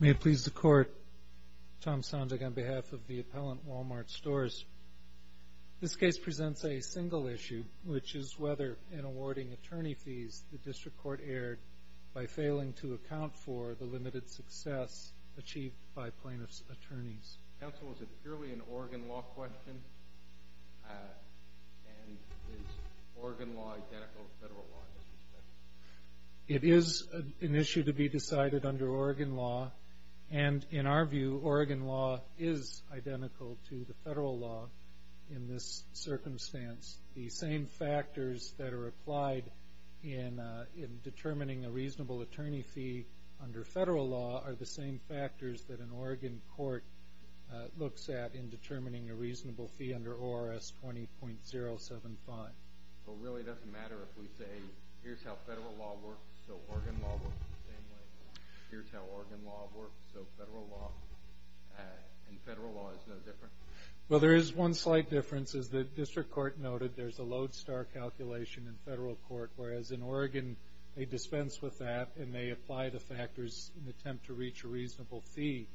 May it please the Court, Tom Sondag on behalf of the appellant Wal-Mart Stores. This case presents a single issue, which is whether, in awarding attorney fees, the district court erred by failing to account for the limited success achieved by plaintiffs' attorneys. Counsel, is it purely an Oregon law question? And is Oregon law identical to federal law in this respect? It is an issue to be decided under Oregon law. And in our view, Oregon law is identical to the federal law in this circumstance. The same factors that are applied in determining a reasonable attorney fee under federal law are the same factors that an Oregon court looks at in determining a reasonable fee under ORS 20.075. So it really doesn't matter if we say, here's how federal law works, so Oregon law works the same way. Here's how Oregon law works, so federal law and federal law is no different? Well, there is one slight difference. As the district court noted, there's a lodestar calculation in federal court, whereas in Oregon they dispense with that and they apply the factors in an attempt to reach a reasonable fee.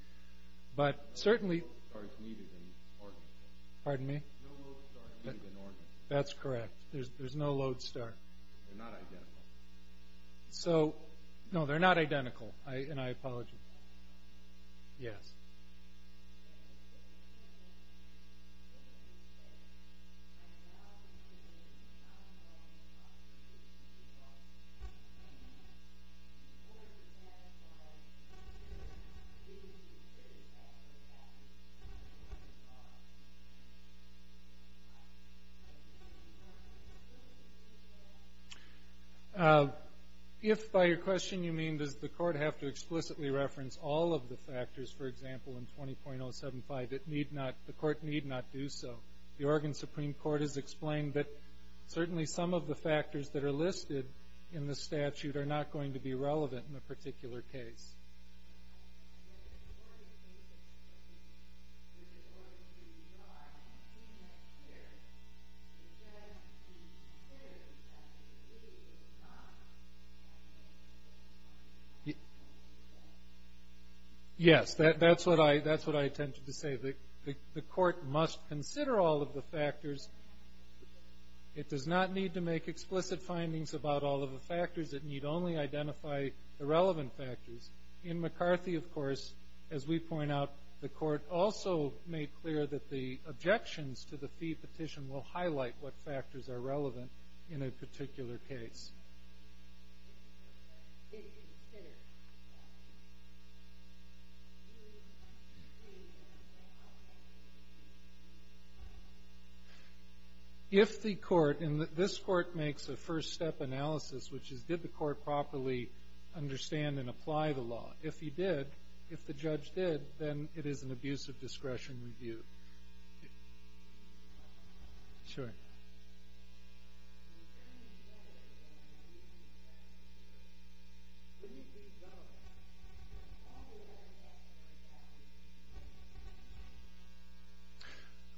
But certainly... No lodestar is needed in Oregon. Pardon me? No lodestar is needed in Oregon. That's correct. There's no lodestar. They're not identical. No, they're not identical. And I apologize. Yes. If by your question you mean, does the court have to explicitly reference all of the factors, for example, in 20.075, the court need not do so. The Oregon Supreme Court has explained that certainly some of the factors that are listed in the statute are not going to be relevant in a particular case. Yes, that's what I intended to say. The court must consider all of the factors. It does not need to make explicit findings about all of the factors. It need only identify the relevant factors. In McCarthy, of course, as we point out, the court also made clear that the objections to the fee petition will highlight what factors are relevant in a particular case. If the court, and this court makes a first step analysis, which is did the court properly understand and apply the law. If he did, if the judge did, then it is an abuse of discretion review. Sure.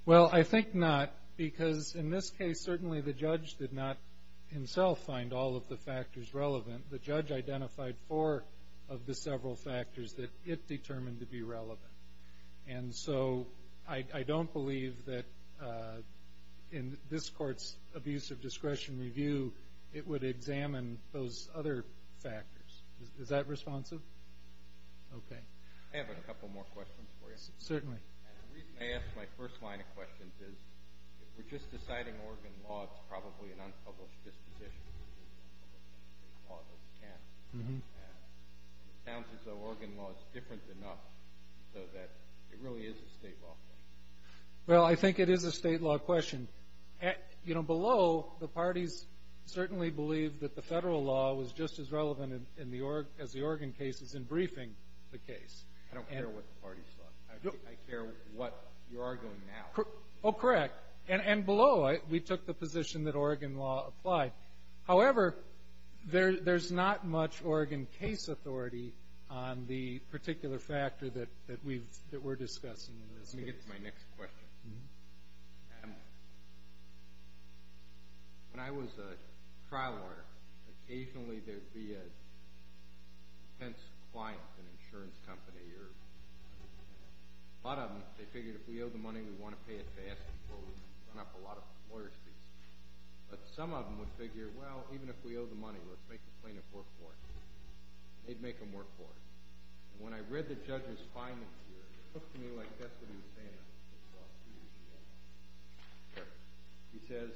Well, I think not, because in this case certainly the judge did not himself find all of the factors relevant. The judge identified four of the several factors that it determined to be relevant. And so I don't believe that in this court's abuse of discretion review, it would examine those other factors. Is that responsive? Okay. I have a couple more questions for you. Certainly. The reason I ask my first line of questions is if we're just deciding Oregon law, it's probably an unpublished disposition. It sounds as though Oregon law is different enough so that it really is a state law thing. Well, I think it is a state law question. You know, below, the parties certainly believe that the federal law was just as relevant as the Oregon case in briefing the case. I don't care what the parties thought. I care what you're arguing now. Oh, correct. And below, we took the position that Oregon law applied. However, there's not much Oregon case authority on the particular factor that we're discussing in this case. Let me get to my next question. When I was a trial lawyer, occasionally there would be a defense client, an insurance company. A lot of them, they figured if we owe the money, we want to pay it fast and close and run up a lot of employer fees. But some of them would figure, well, even if we owe the money, let's make the plaintiff work for it. They'd make them work for it. And when I read the judge's findings here, it took to me like destiny to say that. He says,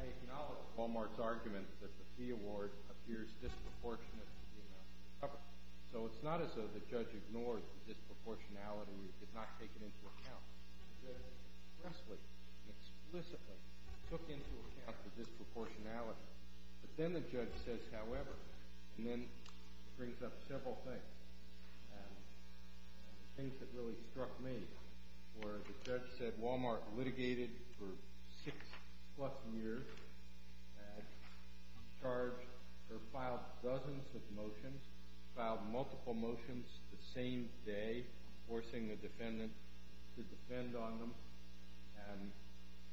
I acknowledge Wal-Mart's argument that the fee award appears disproportionate to the amount covered. So it's not as though the judge ignored the disproportionality. It did not take it into account. It expressly, explicitly took into account the disproportionality. But then the judge says, however, and then brings up several things, things that really struck me, where the judge said Wal-Mart litigated for six-plus years, filed dozens of motions, filed multiple motions the same day, forcing the defendant to defend on them.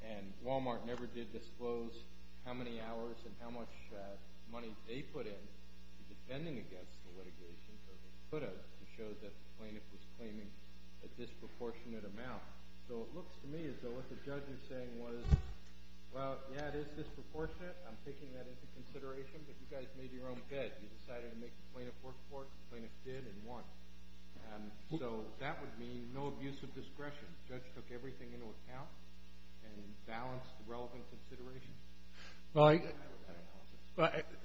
And Wal-Mart never did disclose how many hours and how much money they put in to defending against the litigation. So they put up to show that the plaintiff was claiming a disproportionate amount. So it looks to me as though what the judge was saying was, well, yeah, it is disproportionate. I'm taking that into consideration. But you guys made your own bed. You decided to make the plaintiff work for it. The plaintiff did and won. So that would mean no abuse of discretion. The judge took everything into account and balanced the relevant considerations. Well,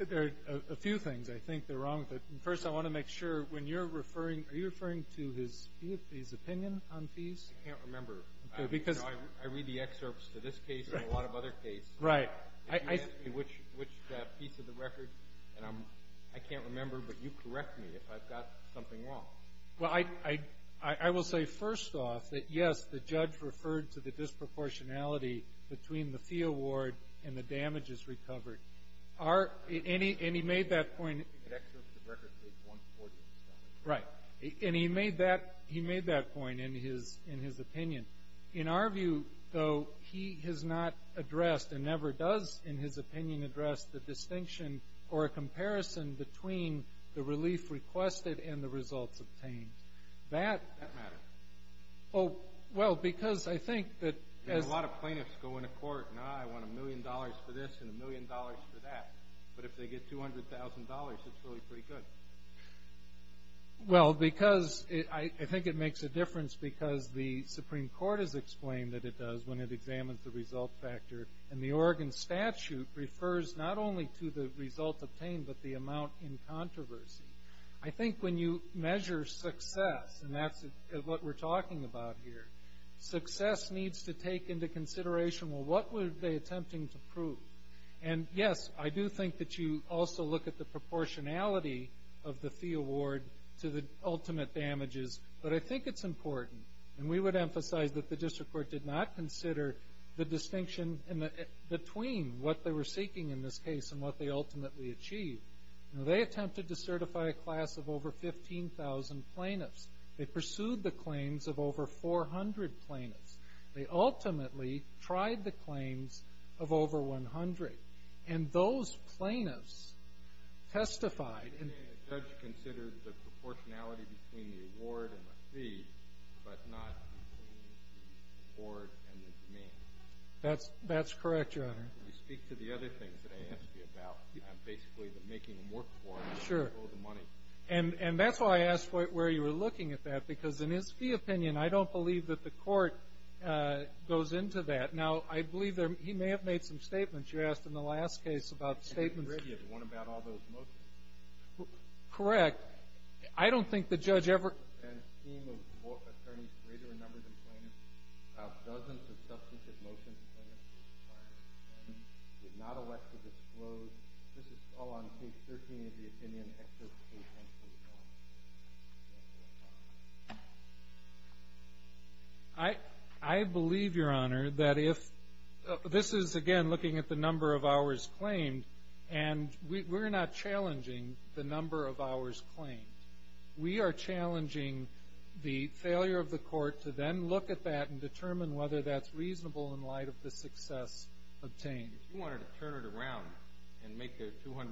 there are a few things I think that are wrong with it. First, I want to make sure, when you're referring, are you referring to his opinion on fees? I can't remember. I read the excerpts to this case and a lot of other cases. Right. Which piece of the record? I can't remember, but you correct me if I've got something wrong. Well, I will say, first off, that, yes, the judge referred to the disproportionality between the fee award and the damages recovered. And he made that point. The record says 140%. Right. And he made that point in his opinion. In our view, though, he has not addressed and never does, in his opinion, addressed the distinction or a comparison between the relief requested and the results obtained. Does that matter? Well, because I think that as ---- A lot of plaintiffs go into court, and, ah, I want a million dollars for this and a million dollars for that. But if they get $200,000, it's really pretty good. Well, because I think it makes a difference because the Supreme Court has explained that it does when it examines the result factor. And the Oregon statute refers not only to the result obtained, but the amount in controversy. I think when you measure success, and that's what we're talking about here, success needs to take into consideration, well, what were they attempting to prove? And, yes, I do think that you also look at the proportionality of the fee award to the ultimate damages. But I think it's important. And we would emphasize that the district court did not consider the distinction between what they were seeking in this case and what they ultimately achieved. They attempted to certify a class of over 15,000 plaintiffs. They pursued the claims of over 400 plaintiffs. They ultimately tried the claims of over 100. And those plaintiffs testified. The judge considered the proportionality between the award and the fee, but not between the award and the demand. That's correct, Your Honor. Can you speak to the other things that I asked you about? Basically the making them work for us. Sure. And that's why I asked where you were looking at that because in his fee opinion, I don't believe that the court goes into that. Now, I believe he may have made some statements. You asked in the last case about statements. Correct. I don't think the judge ever. I believe, Your Honor, that if this is again looking at the number of hours claimed, and we're not challenging the number of hours claimed. We are challenging the failure of the court to then look at that and determine whether that's reasonable in light of the success obtained. If you wanted to turn it around and make a $200,000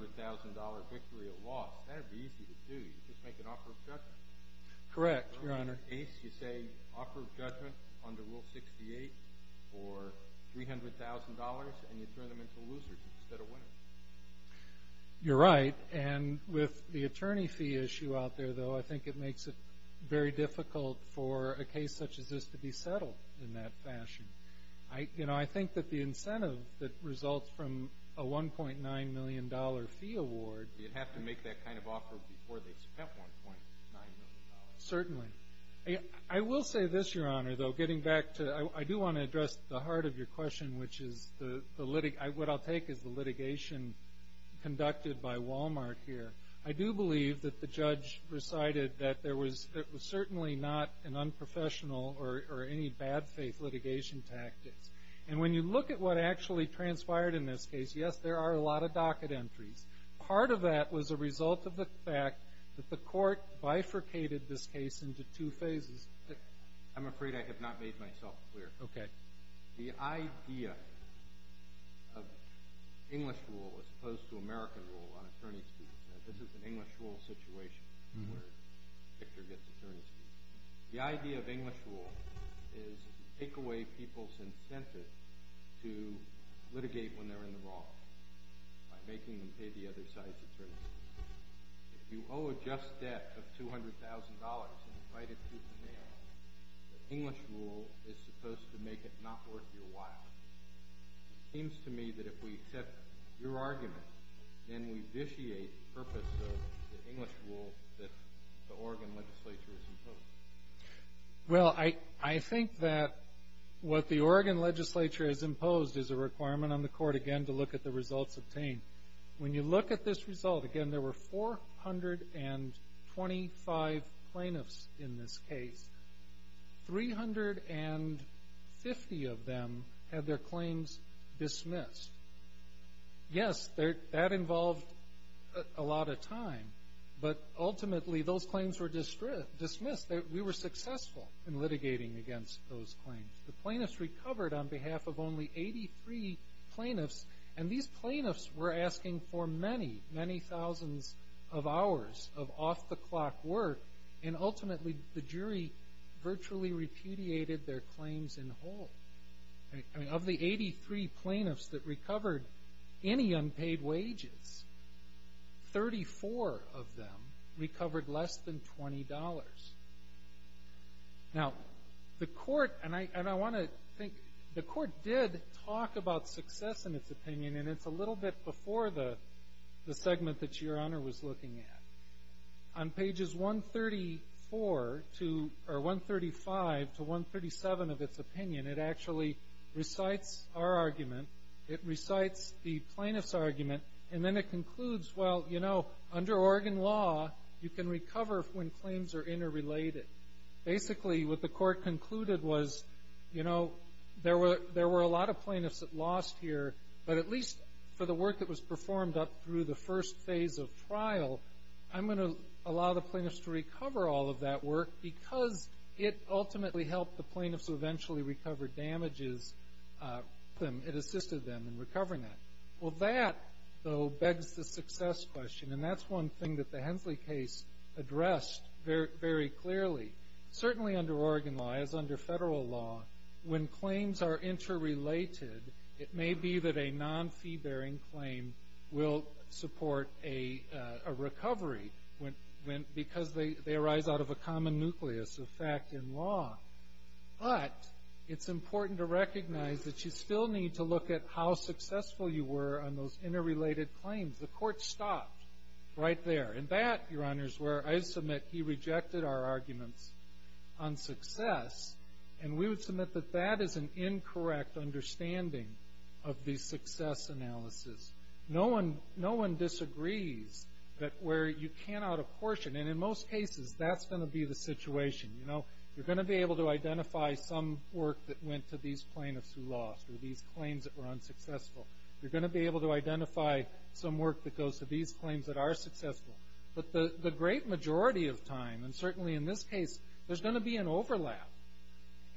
victory a loss, that would be easy to do. You just make an offer of judgment. Correct, Your Honor. You say offer of judgment under Rule 68 for $300,000, and you turn them into losers instead of winners. You're right. And with the attorney fee issue out there, though, I think it makes it very difficult for a case such as this to be settled in that fashion. You know, I think that the incentive that results from a $1.9 million fee award. You'd have to make that kind of offer before they spent $1.9 million. Certainly. I will say this, Your Honor, though. Getting back to it, I do want to address the heart of your question, what I'll take is the litigation conducted by Walmart here. I do believe that the judge recited that there was certainly not an unprofessional or any bad faith litigation tactics. And when you look at what actually transpired in this case, yes, there are a lot of docket entries. Part of that was a result of the fact that the court bifurcated this case into two phases. I'm afraid I have not made myself clear. Okay. The idea of English rule as opposed to American rule on attorney fees. Now, this is an English rule situation where Victor gets attorney fees. The idea of English rule is to take away people's incentive to litigate when they're in the wrong by making them pay the other side's attorney fees. If you owe a just debt of $200,000 and you write it through the mail, the English rule is supposed to make it not worth your while. It seems to me that if we accept your argument, then we vitiate the purpose of the English rule that the Oregon legislature has imposed. Well, I think that what the Oregon legislature has imposed is a requirement on the court, again, to look at the results obtained. When you look at this result, again, there were 425 plaintiffs in this case. 350 of them had their claims dismissed. Yes, that involved a lot of time, but ultimately those claims were dismissed. We were successful in litigating against those claims. The plaintiffs recovered on behalf of only 83 plaintiffs, and these plaintiffs were asking for many, many thousands of hours of off-the-clock work, and ultimately the jury virtually repudiated their claims in whole. Of the 83 plaintiffs that recovered any unpaid wages, 34 of them recovered less than $20. Now, the court did talk about success in its opinion, and it's a little bit before the segment that Your Honor was looking at. On pages 135 to 137 of its opinion, it actually recites our argument, it recites the plaintiff's argument, and then it concludes, well, you know, under Oregon law, you can recover when claims are interrelated. Basically, what the court concluded was, you know, there were a lot of plaintiffs that lost here, but at least for the work that was performed up through the first phase of trial, I'm going to allow the plaintiffs to recover all of that work because it ultimately helped the plaintiffs who eventually recovered damages. It assisted them in recovering that. Well, that, though, begs the success question, and that's one thing that the Hensley case addressed very clearly. Certainly under Oregon law, as under federal law, when claims are interrelated, it may be that a non-fee-bearing claim will support a recovery because they arise out of a common nucleus of fact in law. But it's important to recognize that you still need to look at how successful you were on those interrelated claims. The court stopped right there. And that, Your Honors, where I submit he rejected our arguments on success, and we would submit that that is an incorrect understanding of the success analysis. No one disagrees that where you can out a portion, and in most cases that's going to be the situation, you know. You're going to be able to identify some work that went to these plaintiffs who lost or these claims that were unsuccessful. You're going to be able to identify some work that goes to these claims that are successful. But the great majority of time, and certainly in this case, there's going to be an overlap,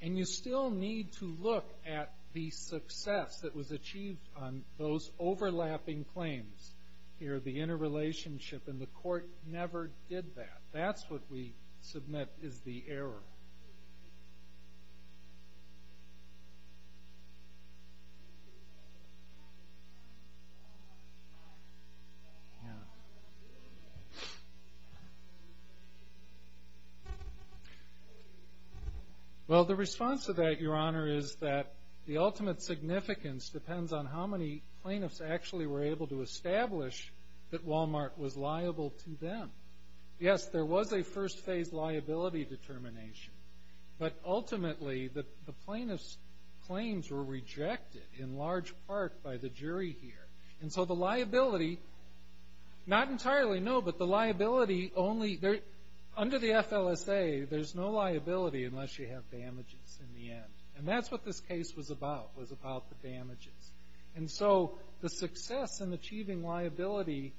and you still need to look at the success that was achieved on those overlapping claims. Here, the interrelationship in the court never did that. That's what we submit is the error. Well, the response to that, Your Honor, is that the ultimate significance depends on how many plaintiffs actually were able to establish that Walmart was liable to them. Yes, there was a first phase liability determination, but ultimately the plaintiffs' claims were rejected in large part by the jury here. And so the liability, not entirely, no, but the liability only, under the FLSA, there's no liability unless you have damages in the end. And that's what this case was about, was about the damages. And so the success in achieving liability,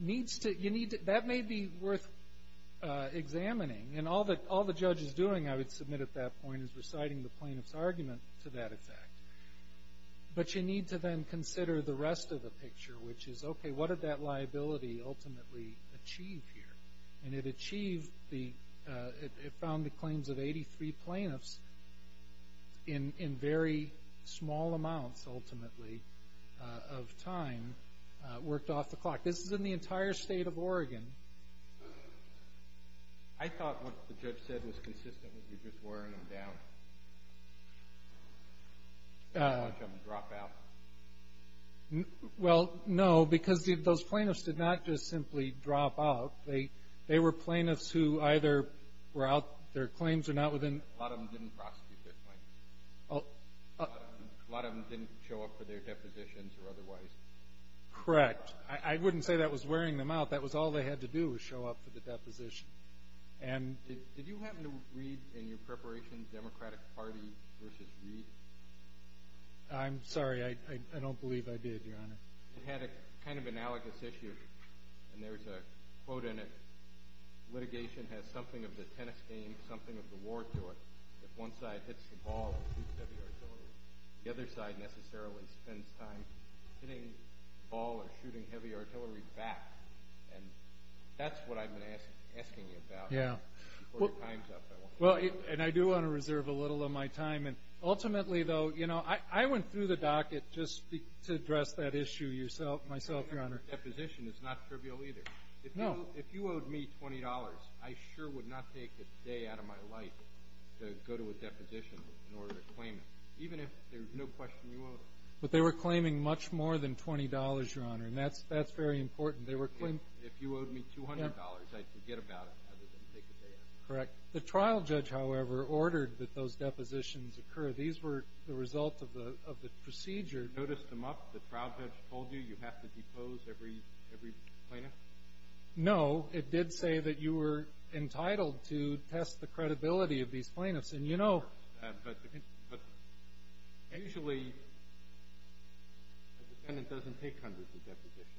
that may be worth examining. And all the judge is doing, I would submit at that point, is reciting the plaintiff's argument to that effect. But you need to then consider the rest of the picture, which is, okay, what did that liability ultimately achieve here? And it achieved the – it found the claims of 83 plaintiffs in very small amounts, ultimately, of time, worked off the clock. This is in the entire state of Oregon. I thought what the judge said was consistent with you just wearing them down, letting them drop out. Well, no, because those plaintiffs did not just simply drop out. They were plaintiffs who either were out – their claims were not within – A lot of them didn't prosecute their claims. A lot of them didn't show up for their depositions or otherwise. Correct. I wouldn't say that was wearing them out. That was all they had to do was show up for the deposition. And – Did you happen to read in your preparation Democratic Party v. Reed? I'm sorry. I don't believe I did, Your Honor. It had a kind of analogous issue. And there's a quote in it, litigation has something of the tennis game, something of the war to it. If one side hits the ball and shoots heavy artillery, the other side necessarily spends time hitting the ball or shooting heavy artillery back. And that's what I've been asking you about. Yeah. Well, and I do want to reserve a little of my time. And ultimately, though, you know, I went through the docket just to address that issue myself, Your Honor. Your deposition is not trivial either. No. If you owed me $20, I sure would not take a day out of my life to go to a deposition in order to claim it, even if there's no question you owe it. But they were claiming much more than $20, Your Honor, and that's very important. If you owed me $200, I'd forget about it rather than take a day out. Correct. The trial judge, however, ordered that those depositions occur. These were the result of the procedure. Did you notice them up? The trial judge told you you have to depose every plaintiff? No. It did say that you were entitled to test the credibility of these plaintiffs. And, you know. But usually a defendant doesn't take hundreds of depositions.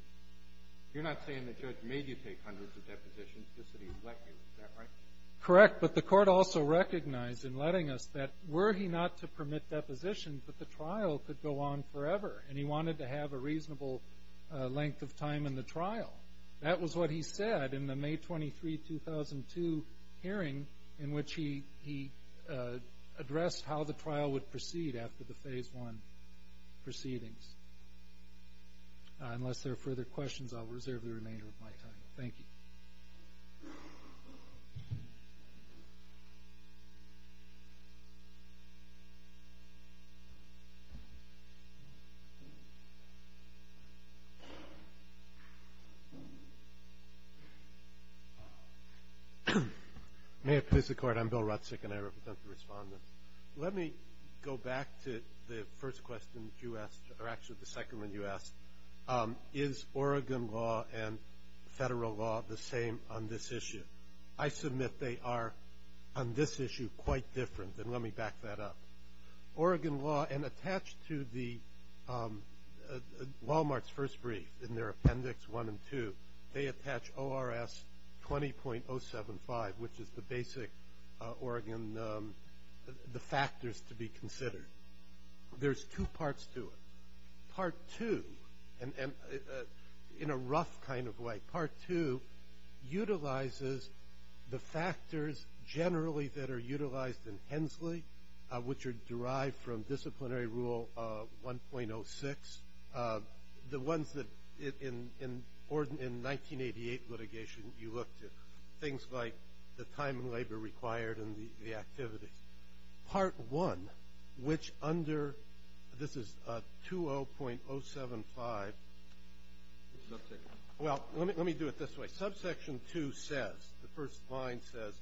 You're not saying the judge made you take hundreds of depositions just so he would let you. Is that right? Correct. But the court also recognized in letting us that were he not to permit depositions, that the trial could go on forever, and he wanted to have a reasonable length of time in the trial. That was what he said in the May 23, 2002 hearing, in which he addressed how the trial would proceed after the Phase I proceedings. Unless there are further questions, I'll reserve the remainder of my time. Thank you. Thank you. May it please the Court. I'm Bill Rutzick, and I represent the respondents. Let me go back to the first question you asked, or actually the second one you asked. Is Oregon law and federal law the same on this issue? I submit they are on this issue quite different, and let me back that up. Oregon law, and attached to Wal-Mart's first brief in their appendix one and two, they attach ORS 20.075, which is the basic Oregon factors to be considered. There's two parts to it. Part two, in a rough kind of way, part two utilizes the factors generally that are utilized in Hensley, which are derived from disciplinary rule 1.06, the ones that in 1988 litigation you looked at, things like the time and labor required and the activities. Part one, which under 20.075, well, let me do it this way. Subsection two says, the first line says,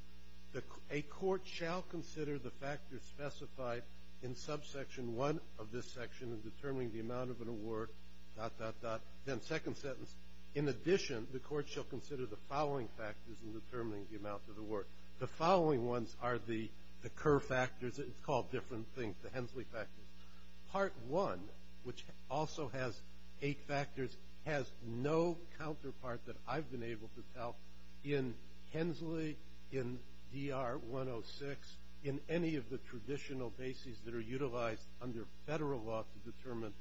a court shall consider the factors specified in subsection one of this section in determining the amount of an award, dot, dot, dot. Then second sentence, in addition, the court shall consider the following factors in determining the amount of the award. The following ones are the Kerr factors. It's called different things, the Hensley factors. Part one, which also has eight factors, has no counterpart that I've been able to tell in Hensley, in DR 106, in any of the traditional bases that are utilized under federal law to determine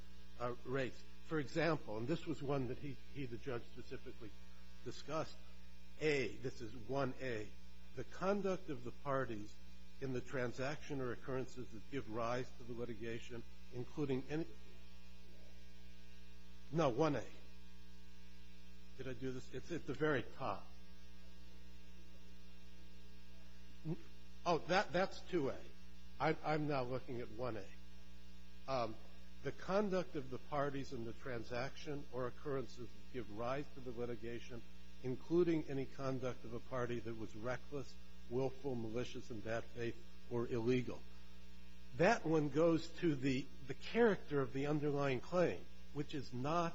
rates. For example, and this was one that he, the judge, specifically discussed, A, this is 1A, the conduct of the parties in the transaction or occurrences that give rise to the litigation, including any, no, 1A. Did I do this? It's at the very top. Oh, that's 2A. I'm now looking at 1A. The conduct of the parties in the transaction or occurrences that give rise to the litigation, including any conduct of a party that was reckless, willful, malicious, in bad faith, or illegal. That one goes to the character of the underlying claim, which is not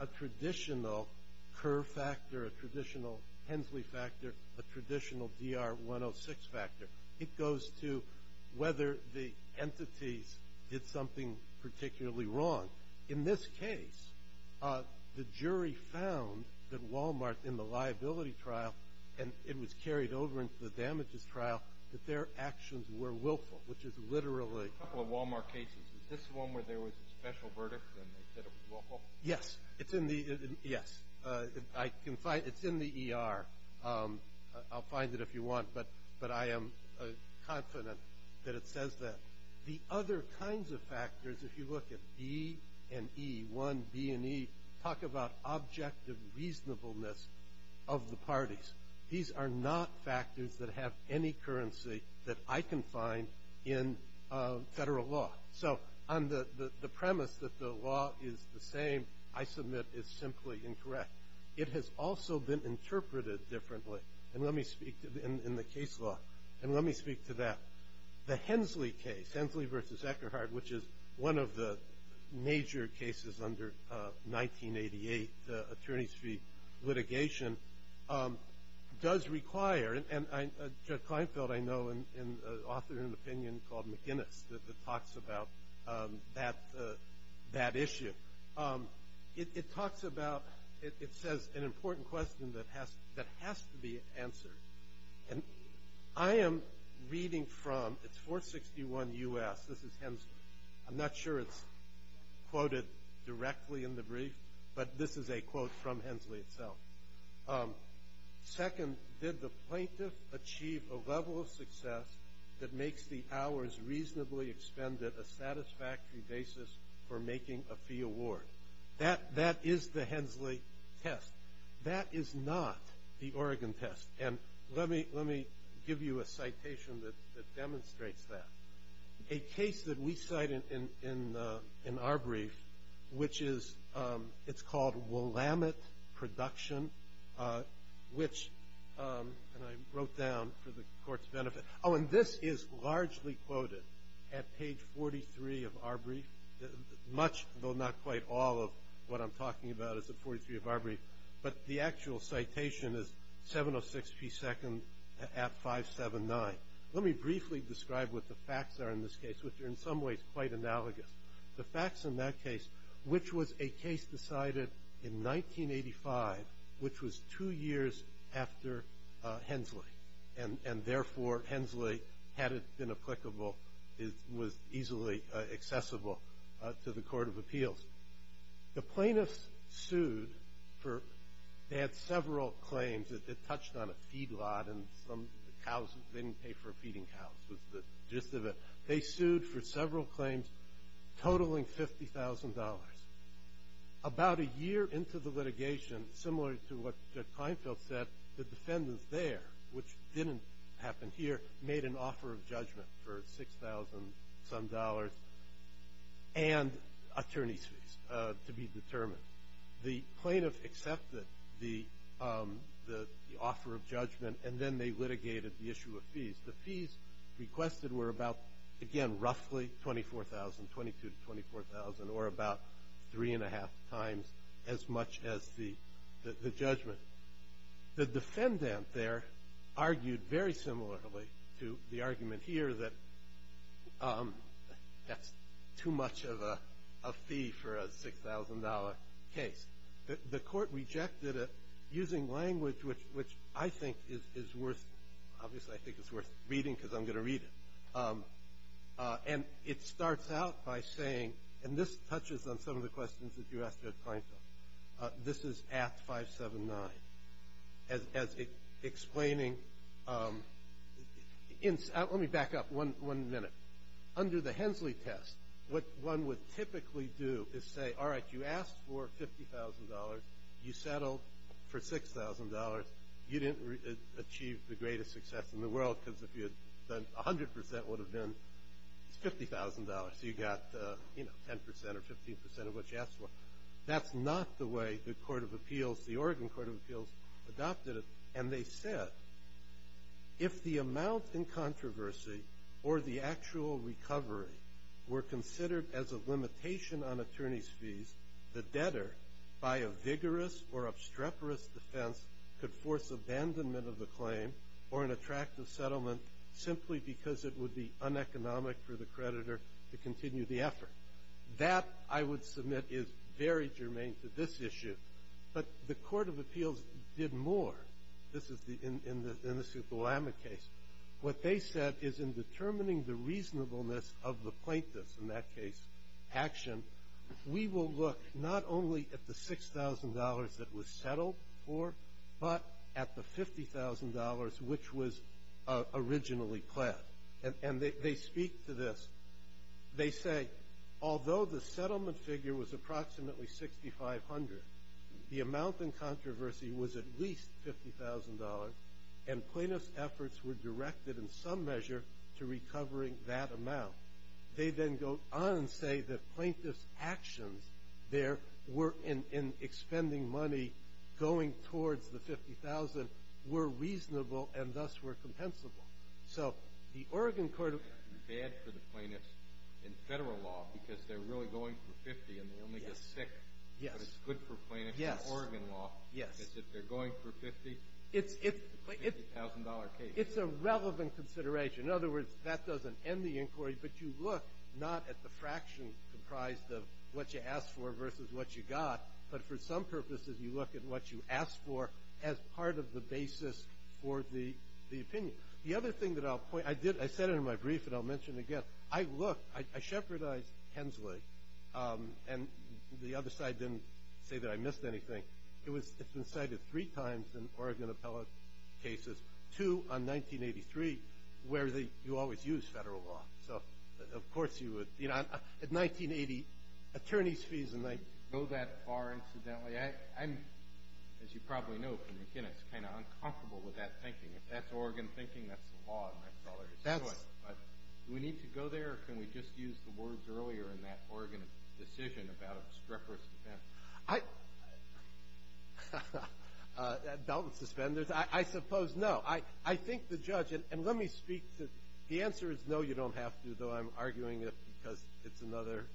a traditional Kerr factor, a traditional Hensley factor, a traditional DR 106 factor. It goes to whether the entities did something particularly wrong. In this case, the jury found that Walmart, in the liability trial, and it was carried over into the damages trial, that their actions were willful, which is literally. A couple of Walmart cases. Is this the one where there was a special verdict and they said it was willful? Yes. It's in the ER. I'll find it if you want, but I am confident that it says that. The other kinds of factors, if you look at B and E, 1B and E, talk about objective reasonableness of the parties. These are not factors that have any currency that I can find in federal law. So on the premise that the law is the same, I submit it's simply incorrect. It has also been interpreted differently in the case law, and let me speak to that. The Hensley case, Hensley v. Eckerhart, which is one of the major cases under 1988, the attorney's fee litigation, does require, and Judge Kleinfeld, I know, and an author in an opinion called McGinnis that talks about that issue. It talks about, it says an important question that has to be answered. I am reading from, it's 461 U.S., this is Hensley. I'm not sure it's quoted directly in the brief, but this is a quote from Hensley itself. Second, did the plaintiff achieve a level of success that makes the hours reasonably expended a satisfactory basis for making a fee award? That is the Hensley test. That is not the Oregon test, and let me give you a citation that demonstrates that. A case that we cite in our brief, which is, it's called Willamette Production, which, and I wrote down for the court's benefit. Oh, and this is largely quoted at page 43 of our brief. Much, though not quite all of what I'm talking about is at 43 of our brief, but the actual citation is 706 P. Second at 579. Let me briefly describe what the facts are in this case, which are in some ways quite analogous. The facts in that case, which was a case decided in 1985, which was two years after Hensley, and therefore Hensley, had it been applicable, was easily accessible to the Court of Appeals. The plaintiffs sued for, they had several claims. It touched on a feed lot and some cows, they didn't pay for feeding cows was the gist of it. They sued for several claims totaling $50,000. About a year into the litigation, similar to what Kleinfeld said, the defendants there, which didn't happen here, made an offer of judgment for $6,000-some and attorney's fees to be determined. The plaintiff accepted the offer of judgment, and then they litigated the issue of fees. The fees requested were about, again, roughly $24,000, $22,000 to $24,000, or about three and a half times as much as the judgment. The defendant there argued very similarly to the argument here that that's too much of a fee for a $6,000 case. The court rejected it using language which I think is worth, obviously I think it's worth reading because I'm going to read it. And it starts out by saying, and this touches on some of the questions that you asked at Kleinfeld, this is at 579, as explaining. Let me back up one minute. Under the Hensley test, what one would typically do is say, all right, you asked for $50,000, you settled for $6,000, you didn't achieve the greatest success in the world because if you had done, 100% would have been $50,000, so you got, you know, 10% or 15% of what you asked for. That's not the way the Court of Appeals, the Oregon Court of Appeals adopted it. And they said, if the amount in controversy or the actual recovery were considered as a limitation on attorney's fees, the debtor, by a vigorous or obstreperous defense, could force abandonment of the claim or an attractive settlement simply because it would be uneconomic for the creditor to continue the effort. That, I would submit, is very germane to this issue. But the Court of Appeals did more. This is in the Sukulama case. What they said is in determining the reasonableness of the plaintiff's, in that case, action, we will look not only at the $6,000 that was settled for, but at the $50,000 which was originally pled. And they speak to this. They say, although the settlement figure was approximately $6,500, the amount in controversy was at least $50,000, and plaintiff's efforts were directed in some measure to recovering that amount. They then go on and say that plaintiff's actions there were in expending money going towards the $50,000 were reasonable and thus were compensable. So the Oregon Court of Appeals. It's bad for the plaintiffs in Federal law because they're really going for $50,000 and they only get $6,000. Yes. But it's good for plaintiffs in Oregon law because if they're going for $50,000, it's a $50,000 case. It's a relevant consideration. In other words, that doesn't end the inquiry, but you look not at the fraction comprised of what you asked for versus what you got, but for some purposes you look at what you asked for as part of the basis for the opinion. The other thing that I'll point out. I said it in my brief and I'll mention it again. I looked. I shepherdized Hensley, and the other side didn't say that I missed anything. It's been cited three times in Oregon appellate cases, two on 1983, where you always use Federal law. So, of course, you would. At 1980, attorney's fees in 1980. I didn't go that far, incidentally. I'm, as you probably know from McInnis, kind of uncomfortable with that thinking. If that's Oregon thinking, that's the law. Do we need to go there or can we just use the words earlier in that Oregon decision about obstreperous defense? Doubt and suspenders? I suppose no. I think the judge, and let me speak to the answer is no, you don't have to, though I'm arguing it because it's another,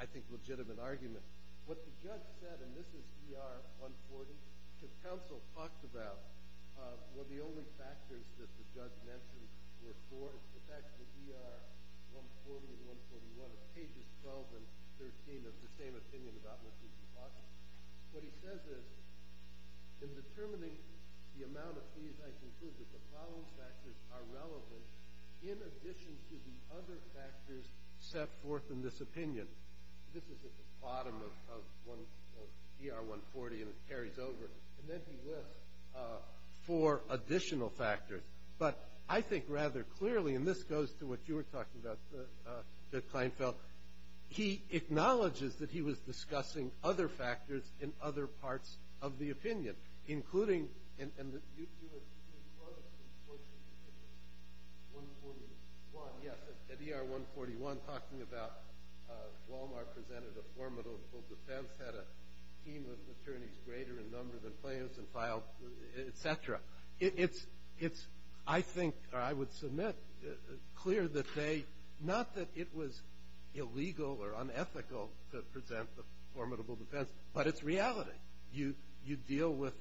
I think, legitimate argument. What the judge said, and this is ER 140, because counsel talked about one of the only factors that the judge mentioned were four, it's the fact that ER 140 and 141 are pages 12 and 13 of the same opinion about what could be possible. What he says is, in determining the amount of fees, I conclude that the following factors are relevant in addition to the other factors set forth in this opinion. This is at the bottom of ER 140, and it carries over. And then he lists four additional factors. But I think rather clearly, and this goes to what you were talking about, Judge Kleinfeld, he acknowledges that he was discussing other factors in other parts of the opinion, including You were talking at ER 141, yes, at ER 141, talking about Wal-Mart presented a formidable defense, had a team of attorneys greater in number than plaintiffs and filed, et cetera. It's, I think, or I would submit, clear that they, not that it was illegal or unethical to present the formidable defense, but it's reality. You deal with,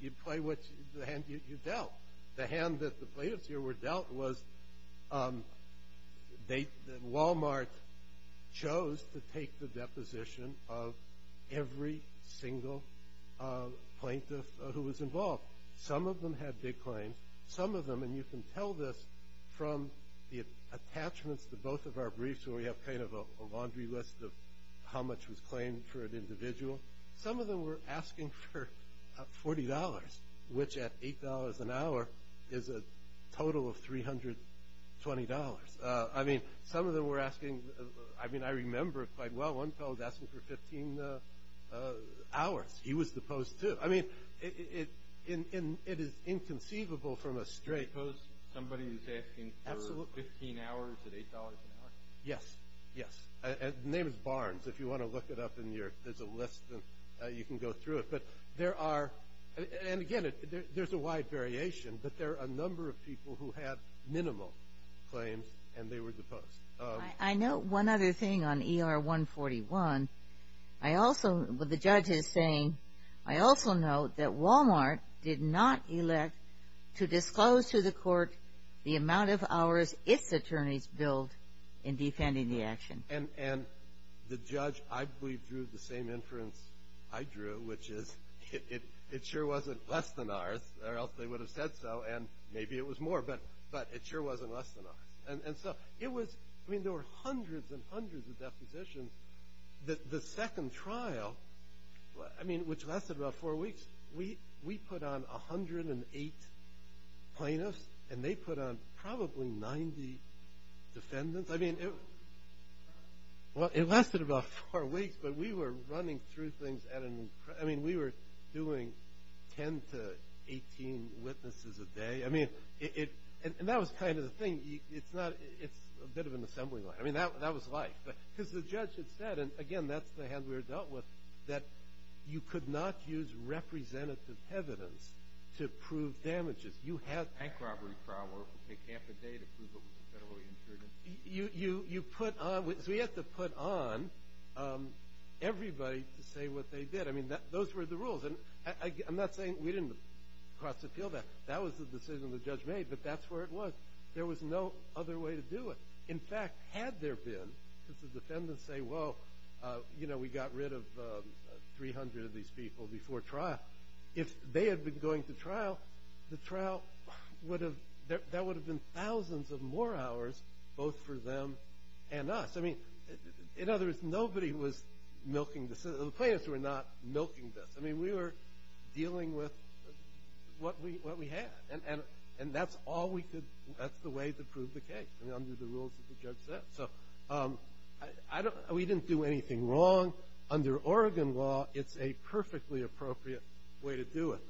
you play with the hand you dealt. The hand that the plaintiffs here were dealt was that Wal-Mart chose to take the deposition of every single plaintiff who was involved. Some of them had big claims. Some of them, and you can tell this from the attachments to both of our briefs, where we have kind of a laundry list of how much was claimed for an individual. Some of them were asking for $40, which at $8 an hour is a total of $320. I mean, some of them were asking, I mean, I remember quite well. One fellow was asking for 15 hours. He was deposed, too. I mean, it is inconceivable from a straight. You suppose somebody is asking for 15 hours at $8 an hour? Yes, yes. The name is Barnes. If you want to look it up in your, there's a list and you can go through it. But there are, and again, there's a wide variation, but there are a number of people who have minimal claims and they were deposed. I note one other thing on ER 141. I also, what the judge is saying, I also note that Wal-Mart did not elect to disclose to the court the amount of hours its attorneys billed in defending the action. And the judge, I believe, drew the same inference I drew, which is it sure wasn't less than ours, or else they would have said so, and maybe it was more, but it sure wasn't less than ours. And so it was, I mean, there were hundreds and hundreds of depositions. The second trial, I mean, which lasted about four weeks, we put on 108 plaintiffs and they put on probably 90 defendants. I mean, well, it lasted about four weeks, but we were running through things at an, I mean, we were doing 10 to 18 witnesses a day. I mean, and that was kind of the thing. It's not, it's a bit of an assembly line. I mean, that was life. Because the judge had said, and again, that's the hand we were dealt with, that you could not use representative evidence to prove damages. You had to. Bank robbery trial work would take half a day to prove it was a federally insured incident. You put on, so we had to put on everybody to say what they did. I mean, those were the rules. And I'm not saying we didn't cross appeal that. That was the decision the judge made, but that's where it was. There was no other way to do it. In fact, had there been, because the defendants say, well, you know, we got rid of 300 of these people before trial, if they had been going to trial, the trial would have, that would have been thousands of more hours both for them and us. I mean, in other words, nobody was milking this. The plaintiffs were not milking this. I mean, we were dealing with what we had. And that's all we could, that's the way to prove the case under the rules that the judge set. So I don't, we didn't do anything wrong. Under Oregon law, it's a perfectly appropriate way to do it.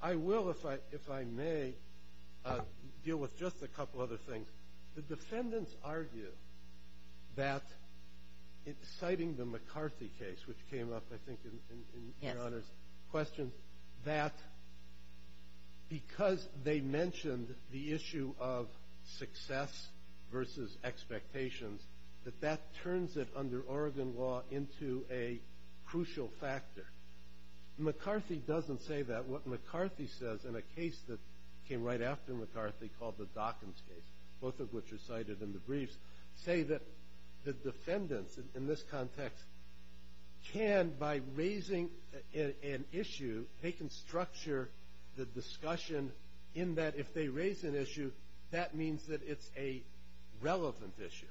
I will, if I may, deal with just a couple other things. The defendants argue that, citing the McCarthy case, which came up, I think, in your Honor's question, that because they mentioned the issue of success versus expectations, that that turns it under Oregon law into a crucial factor. McCarthy doesn't say that. What McCarthy says in a case that came right after McCarthy called the Dockins case, both of which are cited in the briefs, say that the defendants in this context can, by raising an issue, they can structure the discussion in that if they raise an issue, that means that it's a relevant issue.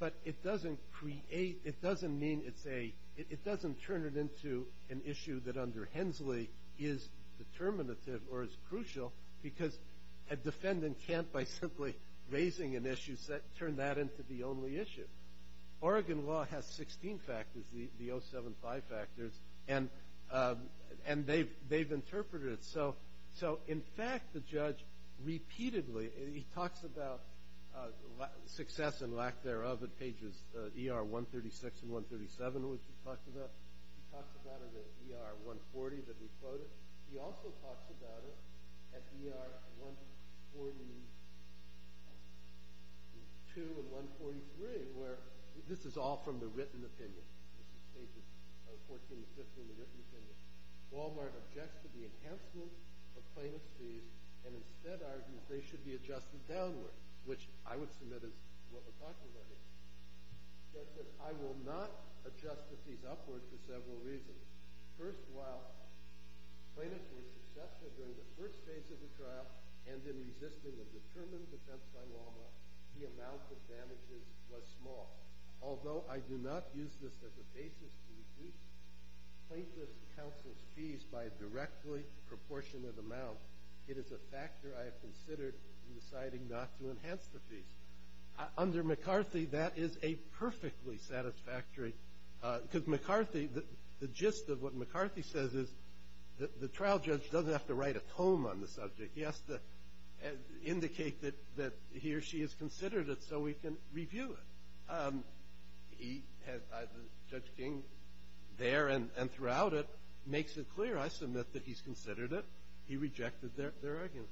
But it doesn't create, it doesn't mean it's a, it doesn't turn it into an issue that under Hensley is determinative or is crucial because a defendant can't, by simply raising an issue, turn that into the only issue. Oregon law has 16 factors, the 075 factors, and they've interpreted it. So, in fact, the judge repeatedly, and he talks about success and lack thereof at pages ER 136 and 137, which he talks about. He talks about it at ER 140, that he quoted. He also talks about it at ER 142 and 143, where this is all from the written opinion. This is pages 14 and 15, the written opinion. Wal-Mart objects to the enhancement of plaintiff's fees and instead argues they should be adjusted downward, which I would submit is what we're talking about here. It says that I will not adjust the fees upward for several reasons. First, while plaintiffs were successful during the first phase of the trial and in resisting a determined defense by Wal-Mart, the amount of damages was small. Although I do not use this as a basis to reduce plaintiff's counsel's fees by a directly proportionate amount, it is a factor I have considered in deciding not to enhance the fees. Under McCarthy, that is a perfectly satisfactory ‑‑ because McCarthy, the gist of what McCarthy says is that the trial judge doesn't have to write a tome on the subject. He has to indicate that he or she has considered it so we can review it. He has ‑‑ Judge King there and throughout it makes it clear, I submit, that he's considered it. He rejected their argument.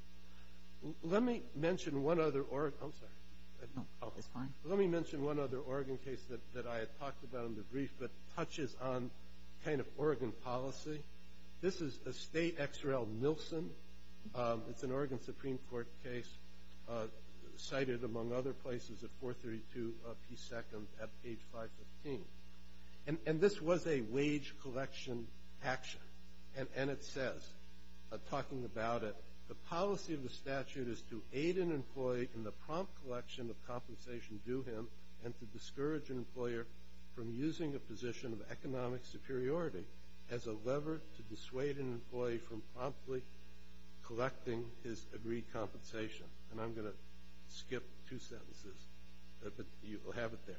Let me mention one other ‑‑ I'm sorry. Let me mention one other Oregon case that I had talked about in the brief that touches on kind of Oregon policy. This is a state XRL Nielsen. It's an Oregon Supreme Court case cited, among other places, at 432P2 at page 515. And this was a wage collection action. And it says, talking about it, the policy of the statute is to aid an employee in the prompt collection of compensation due him and to discourage an employer from using a position of economic superiority as a lever to dissuade an employee from promptly collecting his agreed compensation. And I'm going to skip two sentences, but you will have it there.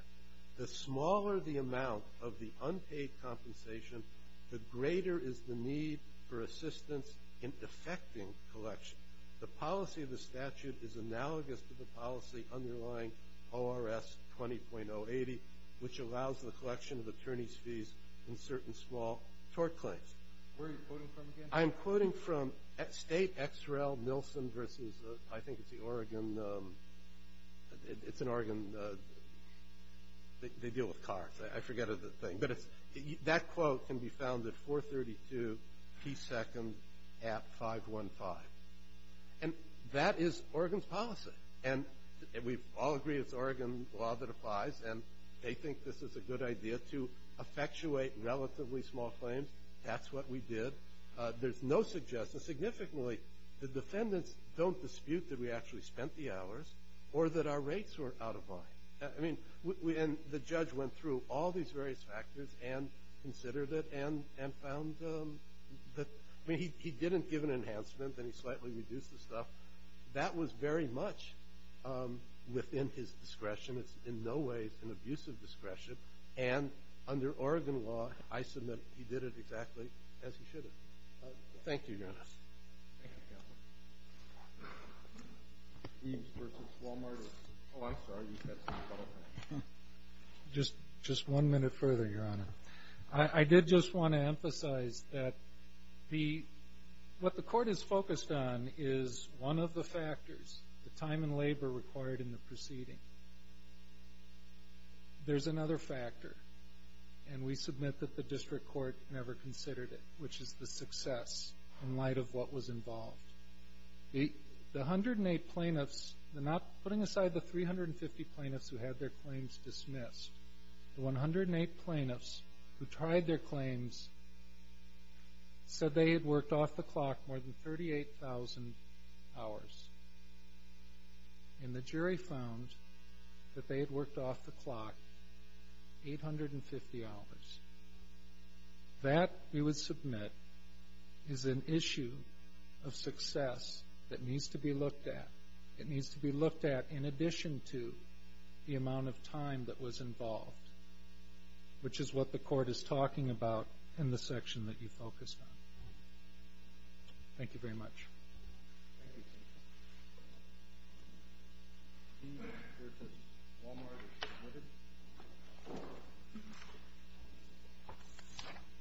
The smaller the amount of the unpaid compensation, the greater is the need for assistance in effecting collection. The policy of the statute is analogous to the policy underlying ORS 20.080, which allows the collection of attorney's fees in certain small tort claims. Where are you quoting from again? I'm quoting from state XRL Nielsen versus I think it's the Oregon ‑‑ it's an Oregon ‑‑ they deal with cars. I forget the thing. But that quote can be found at 432P2 at 515. And that is Oregon's policy. And we all agree it's Oregon law that applies. And they think this is a good idea to effectuate relatively small claims. That's what we did. There's no suggestion. Significantly, the defendants don't dispute that we actually spent the hours or that our rates were out of line. And the judge went through all these various factors and considered it and found that ‑‑ I mean, he didn't give an enhancement and he slightly reduced the stuff. That was very much within his discretion. It's in no way an abusive discretion. And under Oregon law, I submit he did it exactly as he should have. Thank you, Your Honor. Thank you, Counselor. Eames versus Walmart. Oh, I'm sorry. You said something else. Just one minute further, Your Honor. I did just want to emphasize that what the court is focused on is one of the factors, the time and labor required in the proceeding. There's another factor. And we submit that the district court never considered it, which is the success in light of what was involved. The 108 plaintiffs ‑‑ I'm not putting aside the 350 plaintiffs who had their claims dismissed. The 108 plaintiffs who tried their claims said they had worked off the clock more than 38,000 hours. And the jury found that they had worked off the clock 850 hours. That, we would submit, is an issue of success that needs to be looked at. It needs to be looked at in addition to the amount of time that was involved, which is what the court is talking about in the section that you focused on. Thank you very much.